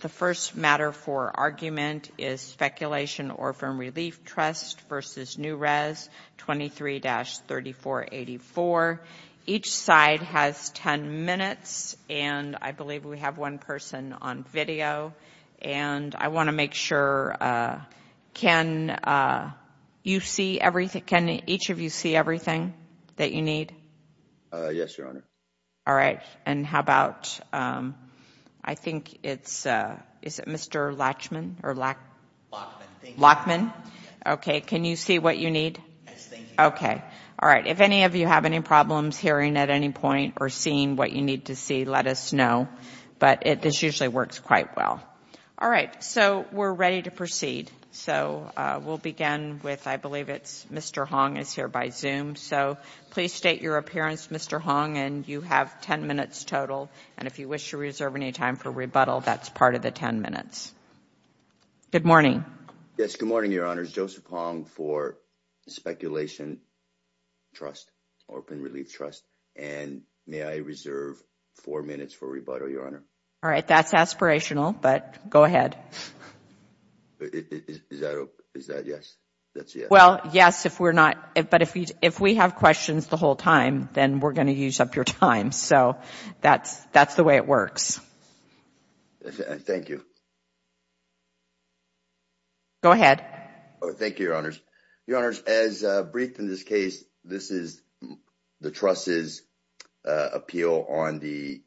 The first matter for argument is Spekulation Orphan Relief Trust v. NewRez 23-3484. Each side has 10 minutes, and I believe we have one person on video. And I want to make sure, can you see everything, can each of you see everything that you need? Yes, Your Honor. All right, and how about, I think it's, is it Mr. Latchman or Lachman? Lachman, thank you. Lachman? Okay, can you see what you need? Yes, thank you. Okay, all right. If any of you have any problems hearing at any point or seeing what you need to see, let us know. But this usually works quite well. All right, so we're ready to proceed. So we'll begin with, I believe it's Mr. Hong is here by Zoom. So please state your appearance, Mr. Hong, and you have 10 minutes total. And if you wish to reserve any time for rebuttal, that's part of the 10 minutes. Good morning. Yes, good morning, Your Honor. It's Joseph Hong for Spekulation Trust, Orphan Relief Trust. And may I reserve four minutes for rebuttal, Your Honor? All right, that's aspirational, but go ahead. Is that, is that yes? Well, yes, if we're not, but if we, if we have questions the whole time, then we're going to use up your time. So that's, that's the way it works. Thank you. Go ahead. Thank you, Your Honors. Your Honors, as briefed in this case, this is the trust's appeal on the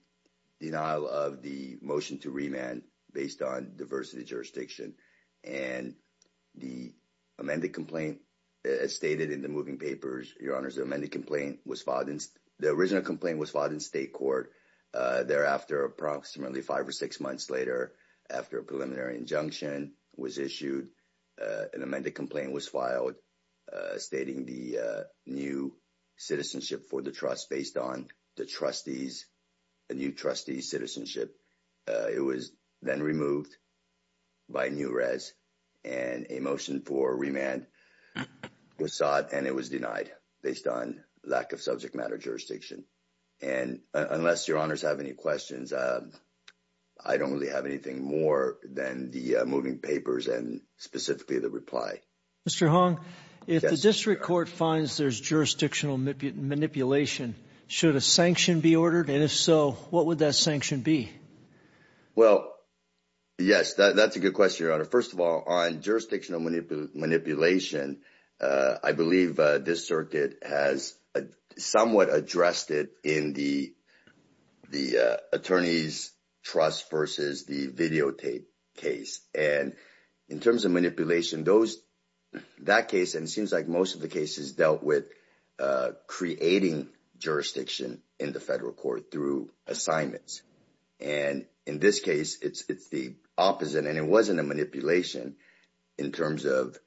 denial of the motion to remand based on diversity jurisdiction. And the amended complaint, as stated in the moving papers, Your Honors, the amended complaint was filed in, the original complaint was filed in state court. Thereafter, approximately five or six months later, after a preliminary injunction was issued, an amended complaint was filed stating the new citizenship for the trust based on the trustees, a new trustee's citizenship. It was then removed by New-Res and a motion for remand was sought and it was denied based on lack of subject matter jurisdiction. And unless Your Honors have any questions, I don't really have anything more than the moving papers and specifically the reply. Mr. Hong, if the district court finds there's jurisdictional manipulation, should a sanction be ordered? And if so, what would that sanction be? Well, yes, that's a good question, Your Honor. First of all, on jurisdictional manipulation, I believe this circuit has somewhat addressed it in the attorneys' trust versus the videotape case. And in terms of manipulation, that case, and it seems like most of the cases, dealt with creating jurisdiction in the federal court through assignments. And in this case, it's the opposite, and it wasn't a manipulation in terms of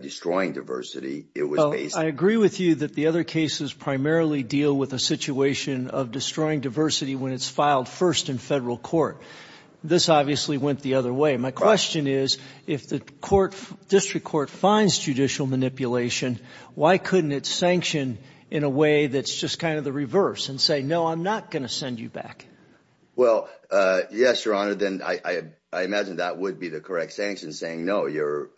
destroying diversity. I agree with you that the other cases primarily deal with a situation of destroying diversity when it's filed first in federal court. This obviously went the other way. My question is, if the district court finds judicial manipulation, why couldn't it sanction in a way that's just kind of the reverse and say, no, I'm not going to send you back? Well, yes, Your Honor. Then I imagine that would be the correct sanction saying, no, your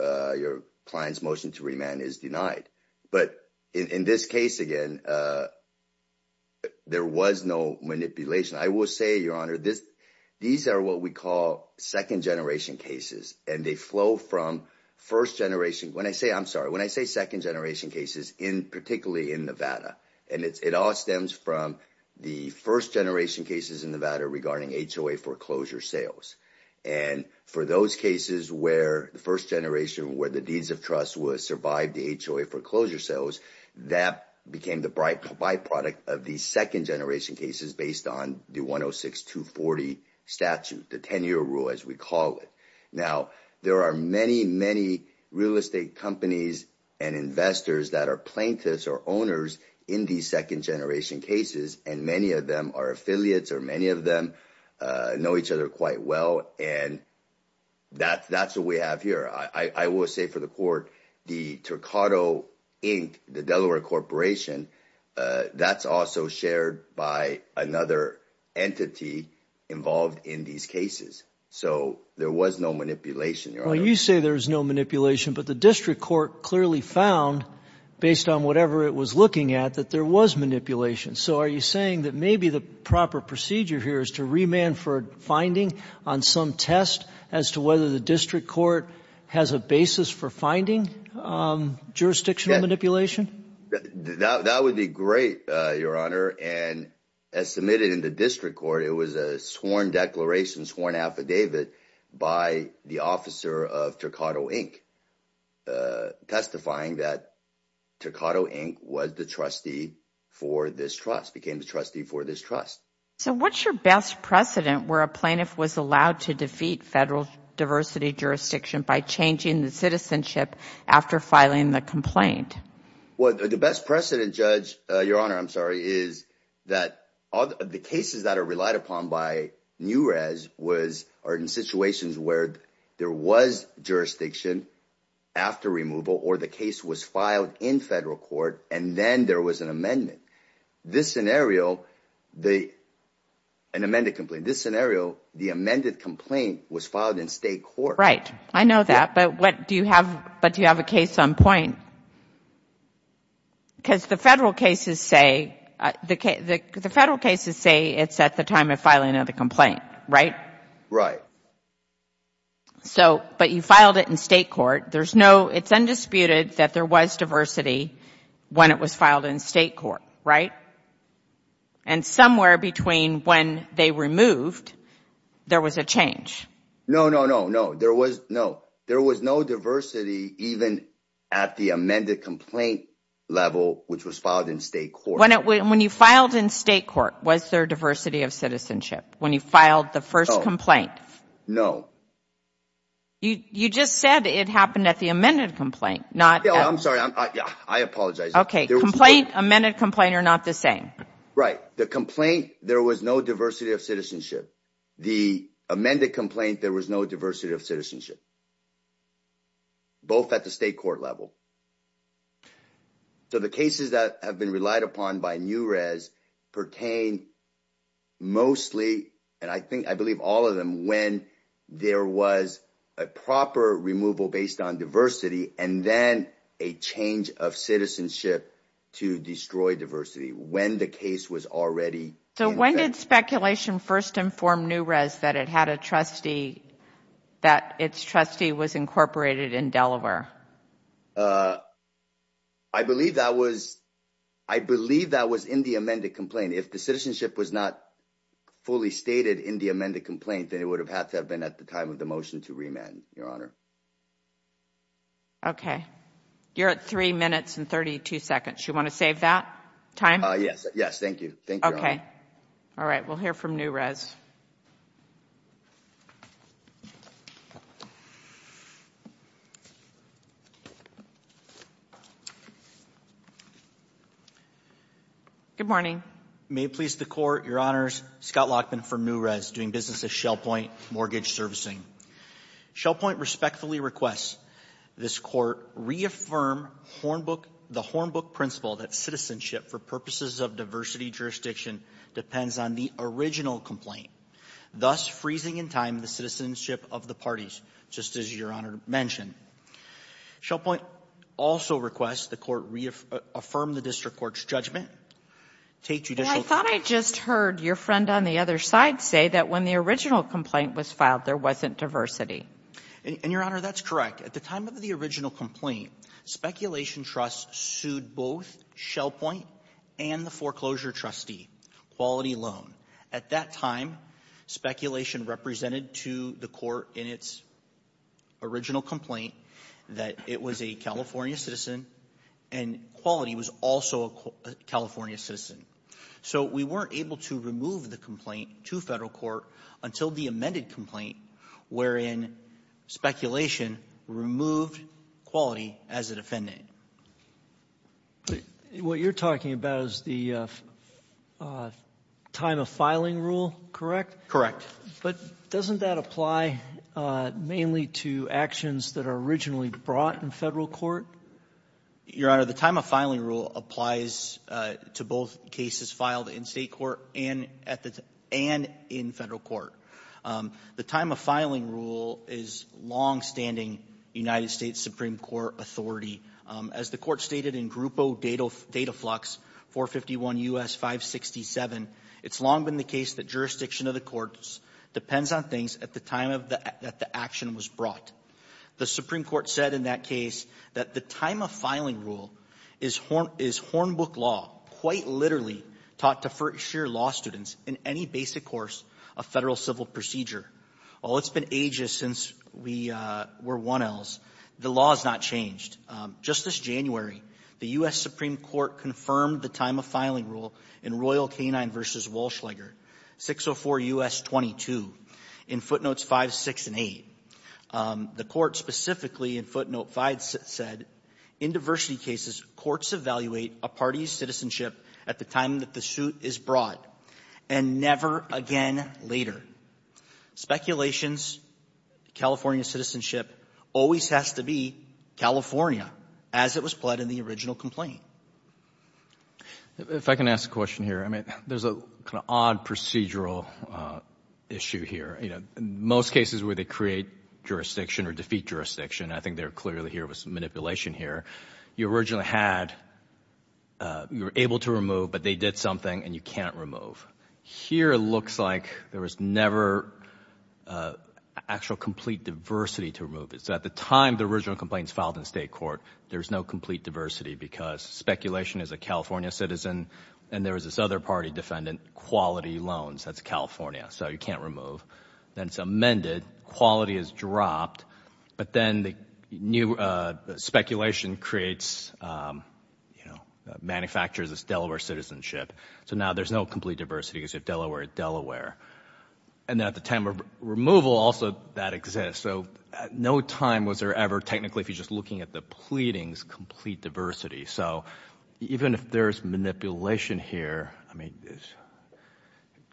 client's motion to remand is denied. But in this case, again, there was no manipulation. I will say, Your Honor, these are what we call second-generation cases, and they flow from first-generation. When I say second-generation cases, particularly in Nevada, and it all stems from the first-generation cases in Nevada regarding HOA foreclosure sales. And for those cases where the first-generation, where the deeds of trust would have survived the HOA foreclosure sales, that became the byproduct of these second-generation cases based on the 106-240 statute, the 10-year rule, as we call it. Now, there are many, many real estate companies and investors that are plaintiffs or owners in these second-generation cases, and many of them are affiliates, or many of them know each other quite well. And that's what we have here. I will say for the court, the Turcado, Inc., the Delaware Corporation, that's also shared by another entity involved in these cases. So there was no manipulation, Your Honor. Well, you say there's no manipulation, but the district court clearly found, based on whatever it was looking at, that there was manipulation. So are you saying that maybe the proper procedure here is to remand for finding on some test as to whether the district court has a basis for finding jurisdictional manipulation? That would be great, Your Honor. And as submitted in the district court, it was a sworn declaration, sworn affidavit, by the officer of Turcado, Inc., testifying that Turcado, Inc. was the trustee for this trust, became the trustee for this trust. So what's your best precedent where a plaintiff was allowed to defeat federal diversity jurisdiction by changing the citizenship after filing the complaint? Well, the best precedent, Judge, Your Honor, I'm sorry, is that the cases that are relied upon by New Rez are in situations where there was jurisdiction after removal or the case was filed in federal court and then there was an amendment. This scenario, an amended complaint, this scenario, the amended complaint was filed in state court. Right. I know that, but do you have a case on point? Because the federal cases say it's at the time of filing of the complaint, right? Right. So, but you filed it in state court. There's no, it's undisputed that there was diversity when it was filed in state court, right? And somewhere between when they removed, there was a change. No, no, no, no. There was, no, there was no diversity even at the amended complaint level, which was filed in state court. When you filed in state court, was there diversity of citizenship when you filed the first complaint? No. You just said it happened at the amended complaint. I'm sorry. I apologize. Okay. Complaint, amended complaint are not the same. Right. The complaint, there was no diversity of citizenship. The amended complaint, there was no diversity of citizenship, both at the state court level. So the cases that have been relied upon by New-Res pertain mostly, and I think, I believe all of them, when there was a proper removal based on diversity, and then a change of citizenship to destroy diversity, when the case was already in effect. So when did speculation first inform New-Res that it had a trustee, that its trustee was incorporated in Delaware? I believe that was, I believe that was in the amended complaint. If the citizenship was not fully stated in the amended complaint, then it would have had to have been at the time of the motion to remand, Your Honor. Okay. You're at three minutes and 32 seconds. You want to save that time? Yes. Yes. Thank you. Thank you, Your Honor. Okay. All right. We'll hear from New-Res. Good morning. May it please the Court, Your Honors, Scott Lachman from New-Res, doing business at Shell Point Mortgage Servicing. Shell Point respectfully requests this Court reaffirm Hornbook, the Hornbook principle that citizenship for purposes of diversity jurisdiction depends on the original complaint, thus freezing in time the citizenship of the parties, just as Your Honor mentioned. Shell Point also requests the Court reaffirm the district court's judgment. Well, I thought I just heard your friend on the other side say that when the original complaint was filed, there wasn't diversity. And, Your Honor, that's correct. At the time of the original complaint, speculation trusts sued both Shell Point and the foreclosure trustee, Quality Loan. At that time, speculation represented to the Court in its original complaint that it was a California citizen and Quality was also a California citizen. So we weren't able to remove the complaint to Federal court until the amended complaint, wherein speculation removed Quality as a defendant. What you're talking about is the time of filing rule, correct? Correct. But doesn't that apply mainly to actions that are originally brought in Federal court? Your Honor, the time of filing rule applies to both cases filed in State court and in Federal court. The time of filing rule is longstanding United States Supreme Court authority. As the Court stated in Grupo Dataflux 451 U.S. 567, it's long been the case that jurisdiction of the courts depends on things at the time that the action was brought. The Supreme Court said in that case that the time of filing rule is Hornbook law, quite literally taught to first-year law students in any basic course of Federal civil procedure. While it's been ages since we were 1Ls, the law has not changed. Just this January, the U.S. Supreme Court confirmed the time of filing rule in Royal Canine v. Walschlager, 604 U.S. 22, in footnotes 5, 6, and 8. The Court specifically in footnote 5 said, in diversity cases, courts evaluate a party's citizenship at the time that the suit is brought, and never again later. Speculations, California citizenship always has to be California, as it was pled in the original complaint. If I can ask a question here. I mean, there's a kind of odd procedural issue here. You know, most cases where they create jurisdiction or defeat jurisdiction, I think they're clearly here with some manipulation here. You originally had you were able to remove, but they did something and you can't remove. Here it looks like there was never actual complete diversity to remove it. So at the time the original complaint is filed in state court, there's no complete diversity because speculation is a California citizen, and there was this other party defendant, quality loans, that's California, so you can't remove. Then it's amended. Quality is dropped. But then the new speculation creates, you know, manufactures this Delaware citizenship. So now there's no complete diversity because you have Delaware, Delaware. And then at the time of removal, also that exists. So at no time was there ever technically, if you're just looking at the pleadings, complete diversity. So even if there's manipulation here, I mean,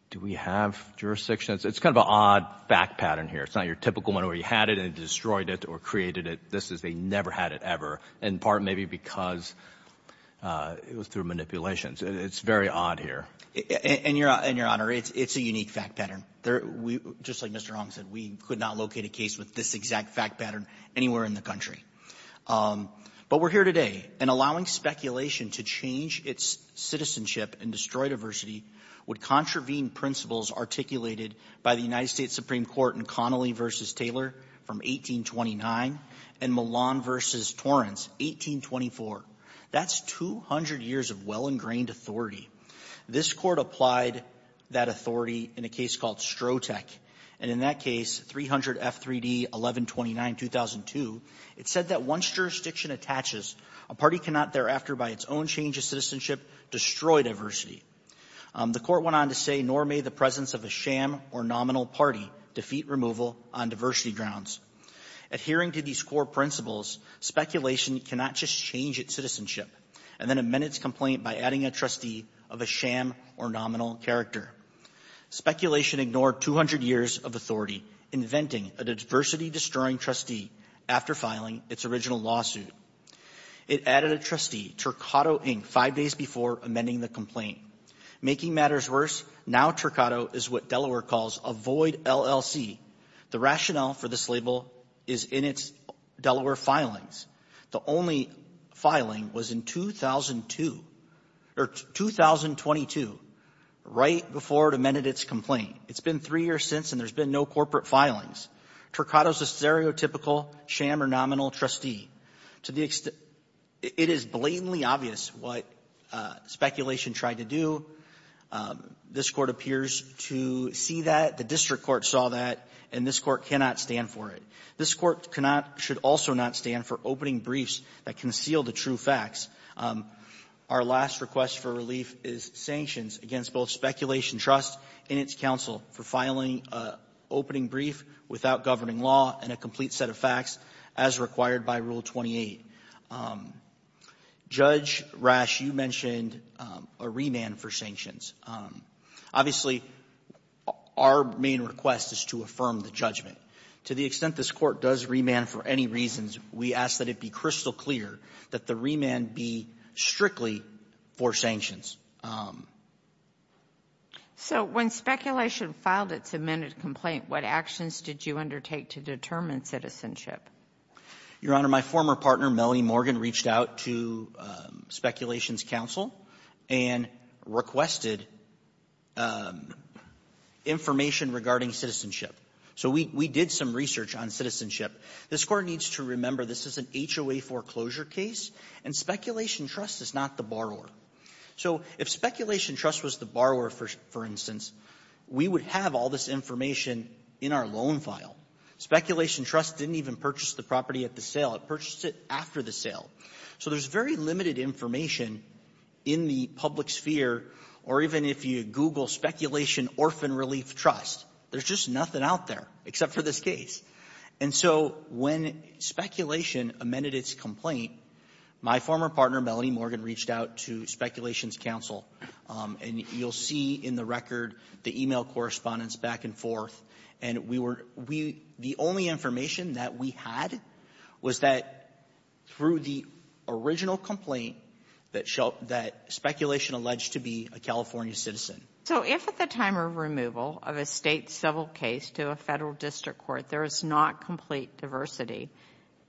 do we have jurisdiction? It's kind of an odd fact pattern here. It's not your typical one where you had it and it destroyed it or created it. This is they never had it ever, in part maybe because it was through manipulations. It's very odd here. And, Your Honor, it's a unique fact pattern. Just like Mr. Hong said, we could not locate a case with this exact fact pattern anywhere in the country. But we're here today. And allowing speculation to change its citizenship and destroy diversity would contravene principles articulated by the United States Supreme Court in Connolly v. Taylor from 1829 and Millon v. Torrance, 1824. That's 200 years of well-ingrained authority. This court applied that authority in a case called Strotek. And in that case, 300 F. 3D, 1129, 2002, it said that once jurisdiction attaches, a party cannot thereafter by its own change of citizenship destroy diversity. The court went on to say, nor may the presence of a sham or nominal party defeat removal on diversity grounds. Adhering to these core principles, speculation cannot just change its citizenship and then amend its complaint by adding a trustee of a sham or nominal character. Speculation ignored 200 years of authority, inventing a diversity-destroying trustee after filing its original lawsuit. It added a trustee, Turcado, Inc., five days before amending the complaint. Making matters worse, now Turcado is what Delaware calls a void LLC. The rationale for this label is in its Delaware filings. The only filing was in 2002, or 2022, right before it amended its complaint. It's been three years since, and there's been no corporate filings. Turcado is a stereotypical sham or nominal trustee. To the extent — it is blatantly obvious what speculation tried to do. This Court appears to see that. The district court saw that, and this Court cannot stand for it. This Court should also not stand for opening briefs that conceal the true facts. Our last request for relief is sanctions against both Speculation Trust and its counsel for filing an opening brief without governing law and a complete set of facts, as required by Rule 28. Judge Rash, you mentioned a remand for sanctions. Obviously, our main request is to affirm the judgment. To the extent this Court does remand for any reasons, we ask that it be crystal clear that the remand be strictly for sanctions. So when Speculation filed its amended complaint, what actions did you undertake to determine citizenship? Your Honor, my former partner, Melanie Morgan, reached out to Speculation's counsel and requested information regarding citizenship. So we did some research on citizenship. This Court needs to remember this is an HOA foreclosure case, and Speculation Trust is not the borrower. So if Speculation Trust was the borrower, for instance, we would have all this information in our loan file. Speculation Trust didn't even purchase the property at the sale. It purchased it after the sale. So there's very limited information in the public sphere, or even if you Google Speculation Orphan Relief Trust, there's just nothing out there except for this case. And so when Speculation amended its complaint, my former partner, Melanie Morgan, reached out to Speculation's counsel. And you'll see in the record the e-mail correspondence back and forth. And we were we the only information that we had was that through the original complaint that Speculation alleged to be a California citizen. So if at the time of removal of a State civil case to a Federal district court there is not complete diversity,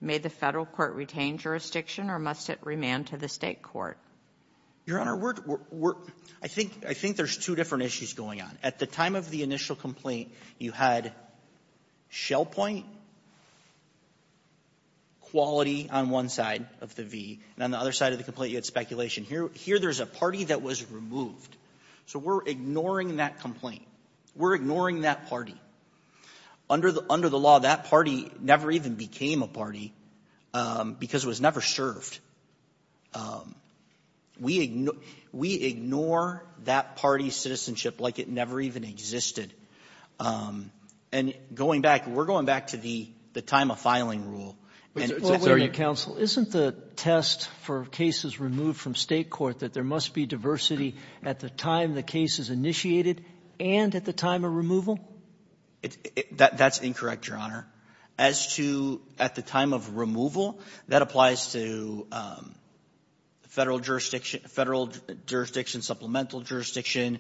may the Federal court retain jurisdiction or must it remand to the State court? Your Honor, we're I think I think there's two different issues going on. At the time of the initial complaint, you had shell point quality on one side of the V, and on the other side of the complaint you had speculation. Here there's a party that was removed. So we're ignoring that complaint. We're ignoring that party. Under the law, that party never even became a party because it was never served. We ignore that party's citizenship like it never even existed. And going back, we're going back to the time of filing rule. Sotomayor, isn't the test for cases removed from State court that there must be diversity at the time the case is initiated and at the time of removal? That's incorrect, Your Honor. As to at the time of removal, that applies to Federal jurisdiction, supplemental jurisdiction,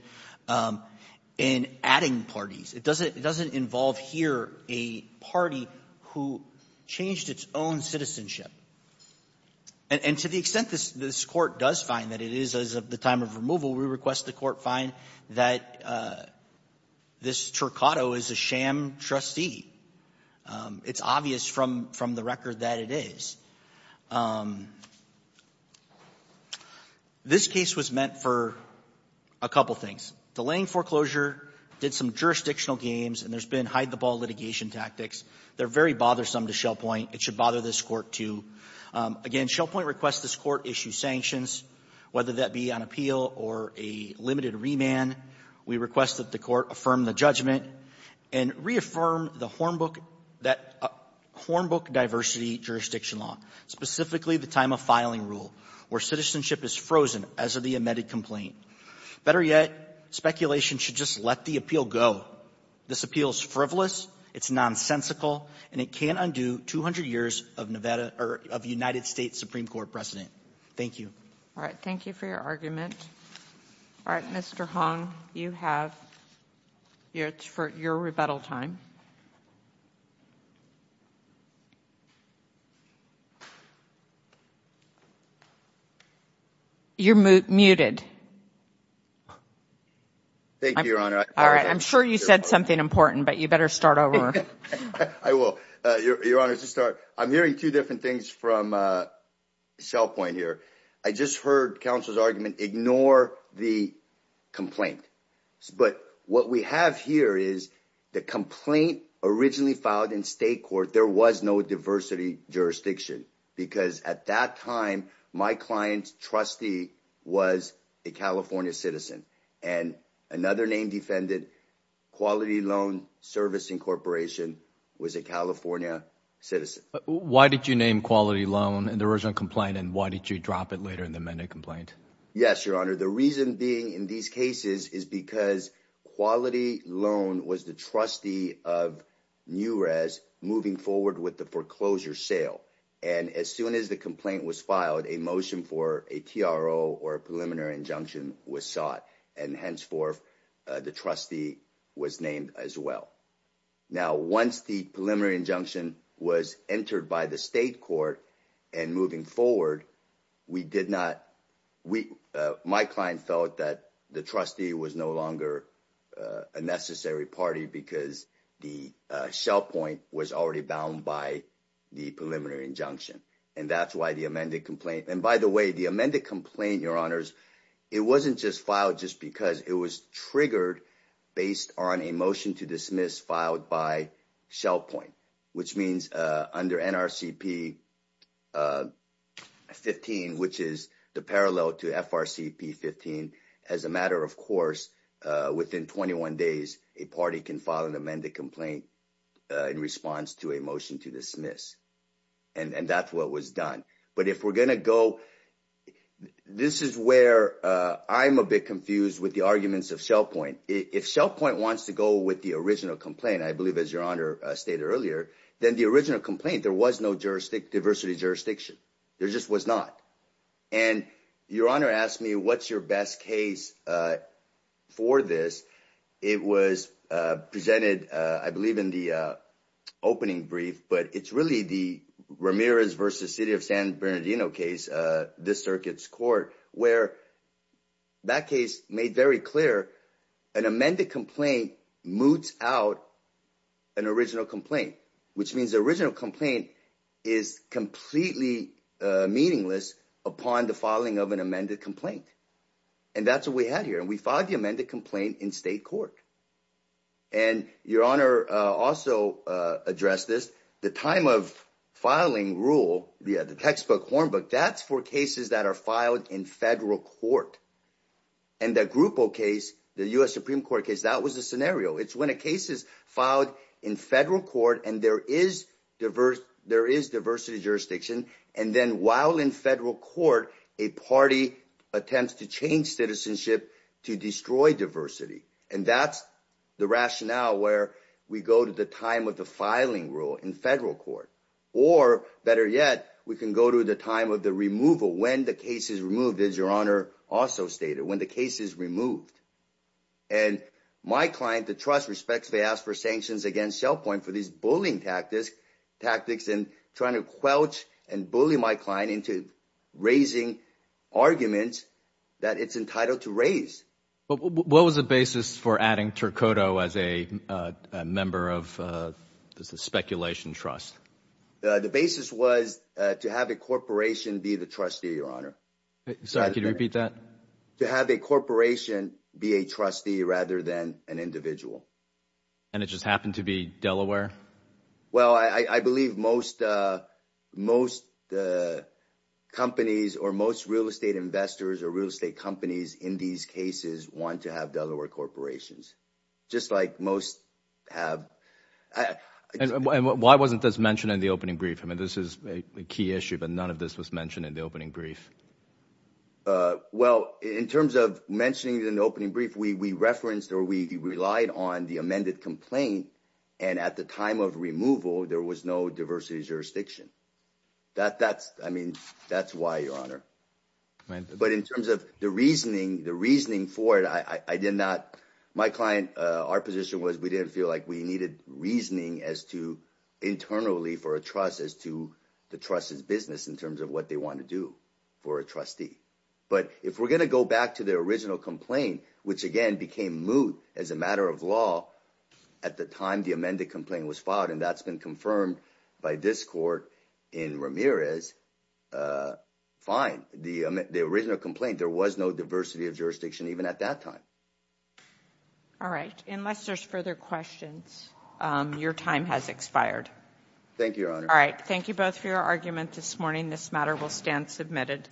and adding parties. It doesn't involve here a party who changed its own citizenship. And to the extent this court does find that it is at the time of removal, we request the court find that this Tercotto is a sham trustee. It's obvious from the record that it is. This case was meant for a couple things. Delaying foreclosure, did some jurisdictional games, and there's been hide-the-ball litigation tactics. They're very bothersome to Shell Point. It should bother this Court, too. Again, Shell Point requests this Court issue sanctions, whether that be on appeal or a limited remand. We request that the Court affirm the judgment and reaffirm the Hornbook that Hornbook diversity jurisdiction law, specifically the time-of-filing rule, where citizenship is frozen as of the amended complaint. Better yet, speculation should just let the appeal go. This appeal is frivolous, it's nonsensical, and it can't undo 200 years of Nevada or of United States Supreme Court precedent. Thank you. All right. Thank you for your argument. All right. Mr. Hong, you have your rebuttal time. You're muted. Thank you, Your Honor. All right. I'm sure you said something important, but you better start over. I will. Your Honor, to start, I'm hearing two different things from Shell Point here. I just heard counsel's argument, ignore the complaint. But what we have here is the complaint originally filed in state court, there was no diversity jurisdiction, because at that time, my client's trustee was a California citizen. And another name defended, Quality Loan Servicing Corporation, was a California citizen. Why did you name Quality Loan in the original complaint? And why did you drop it later in the amended complaint? Yes, Your Honor. The reason being in these cases is because Quality Loan was the trustee of New Rez moving forward with the foreclosure sale. And as soon as the complaint was filed, a motion for a TRO or a preliminary injunction was sought. And henceforth, the trustee was named as well. Now, once the preliminary injunction was entered by the state court, and moving forward, my client felt that the trustee was no longer a necessary party because the Shell Point was already bound by the preliminary injunction. And that's why the amended complaint. And by the way, the amended complaint, Your Honors, it wasn't just filed just because it was triggered based on a motion to dismiss filed by Shell Point, which means under NRCP 15, which is the parallel to FRCP 15, as a matter of course, within 21 days, a party can file an amended complaint in response to a motion to dismiss. And that's what was done. But if we're going to go, this is where I'm a bit confused with the arguments of Shell Point. If Shell Point wants to go with the original complaint, I believe, as Your Honor stated earlier, then the original complaint, there was no diversity jurisdiction. There just was not. And Your Honor asked me, what's your best case for this? It was presented, I believe, in the opening brief, but it's really the Ramirez versus City of San Bernardino case, this circuit's court, where that case made very clear an amended complaint moots out an original complaint, which means the original complaint is completely meaningless upon the filing of an amended complaint. And that's what we had here. And we filed the amended complaint in state court. And Your Honor also addressed this, the time of filing rule, the textbook hornbook, that's for cases that are filed in federal court. And the Grupo case, the U.S. Supreme Court case, that was the scenario. It's when a case is filed in federal court and there is diversity jurisdiction. And then while in federal court, a party attempts to change citizenship to destroy diversity. And that's the rationale where we go to the time of the filing rule in federal court. Or better yet, we can go to the time of the removal, when the case is removed, as Your Honor also stated, when the case is removed. And my client, the trust, respectfully asks for sanctions against ShellPoint for these bullying tactics and trying to quelch and bully my client into raising arguments that it's entitled to raise. What was the basis for adding Turcotto as a member of the speculation trust? The basis was to have a corporation be the trustee, Your Honor. Sorry, could you repeat that? To have a corporation be a trustee rather than an individual. And it just happened to be Delaware? Well, I believe most companies or most real estate investors or real estate companies in these cases want to have Delaware corporations. Just like most have. And why wasn't this mentioned in the opening brief? I mean, this is a key issue, but none of this was mentioned in the opening brief. Well, in terms of mentioning it in the opening brief, we referenced or we relied on the amended complaint. And at the time of removal, there was no diversity jurisdiction. That's why, Your Honor. But in terms of the reasoning, the reasoning for it, I did not. My client, our position was we didn't feel like we needed reasoning as to internally for a trust as to the trust's business in terms of what they want to do for a trustee. But if we're going to go back to the original complaint, which again became moot as a matter of law at the time the amended complaint was filed, and that's been confirmed by this court in Ramirez, fine. The original complaint, there was no diversity of jurisdiction even at that time. All right. Unless there's further questions, your time has expired. Thank you, Your Honor. All right. Thank you both for your argument this morning. This matter will stand submitted.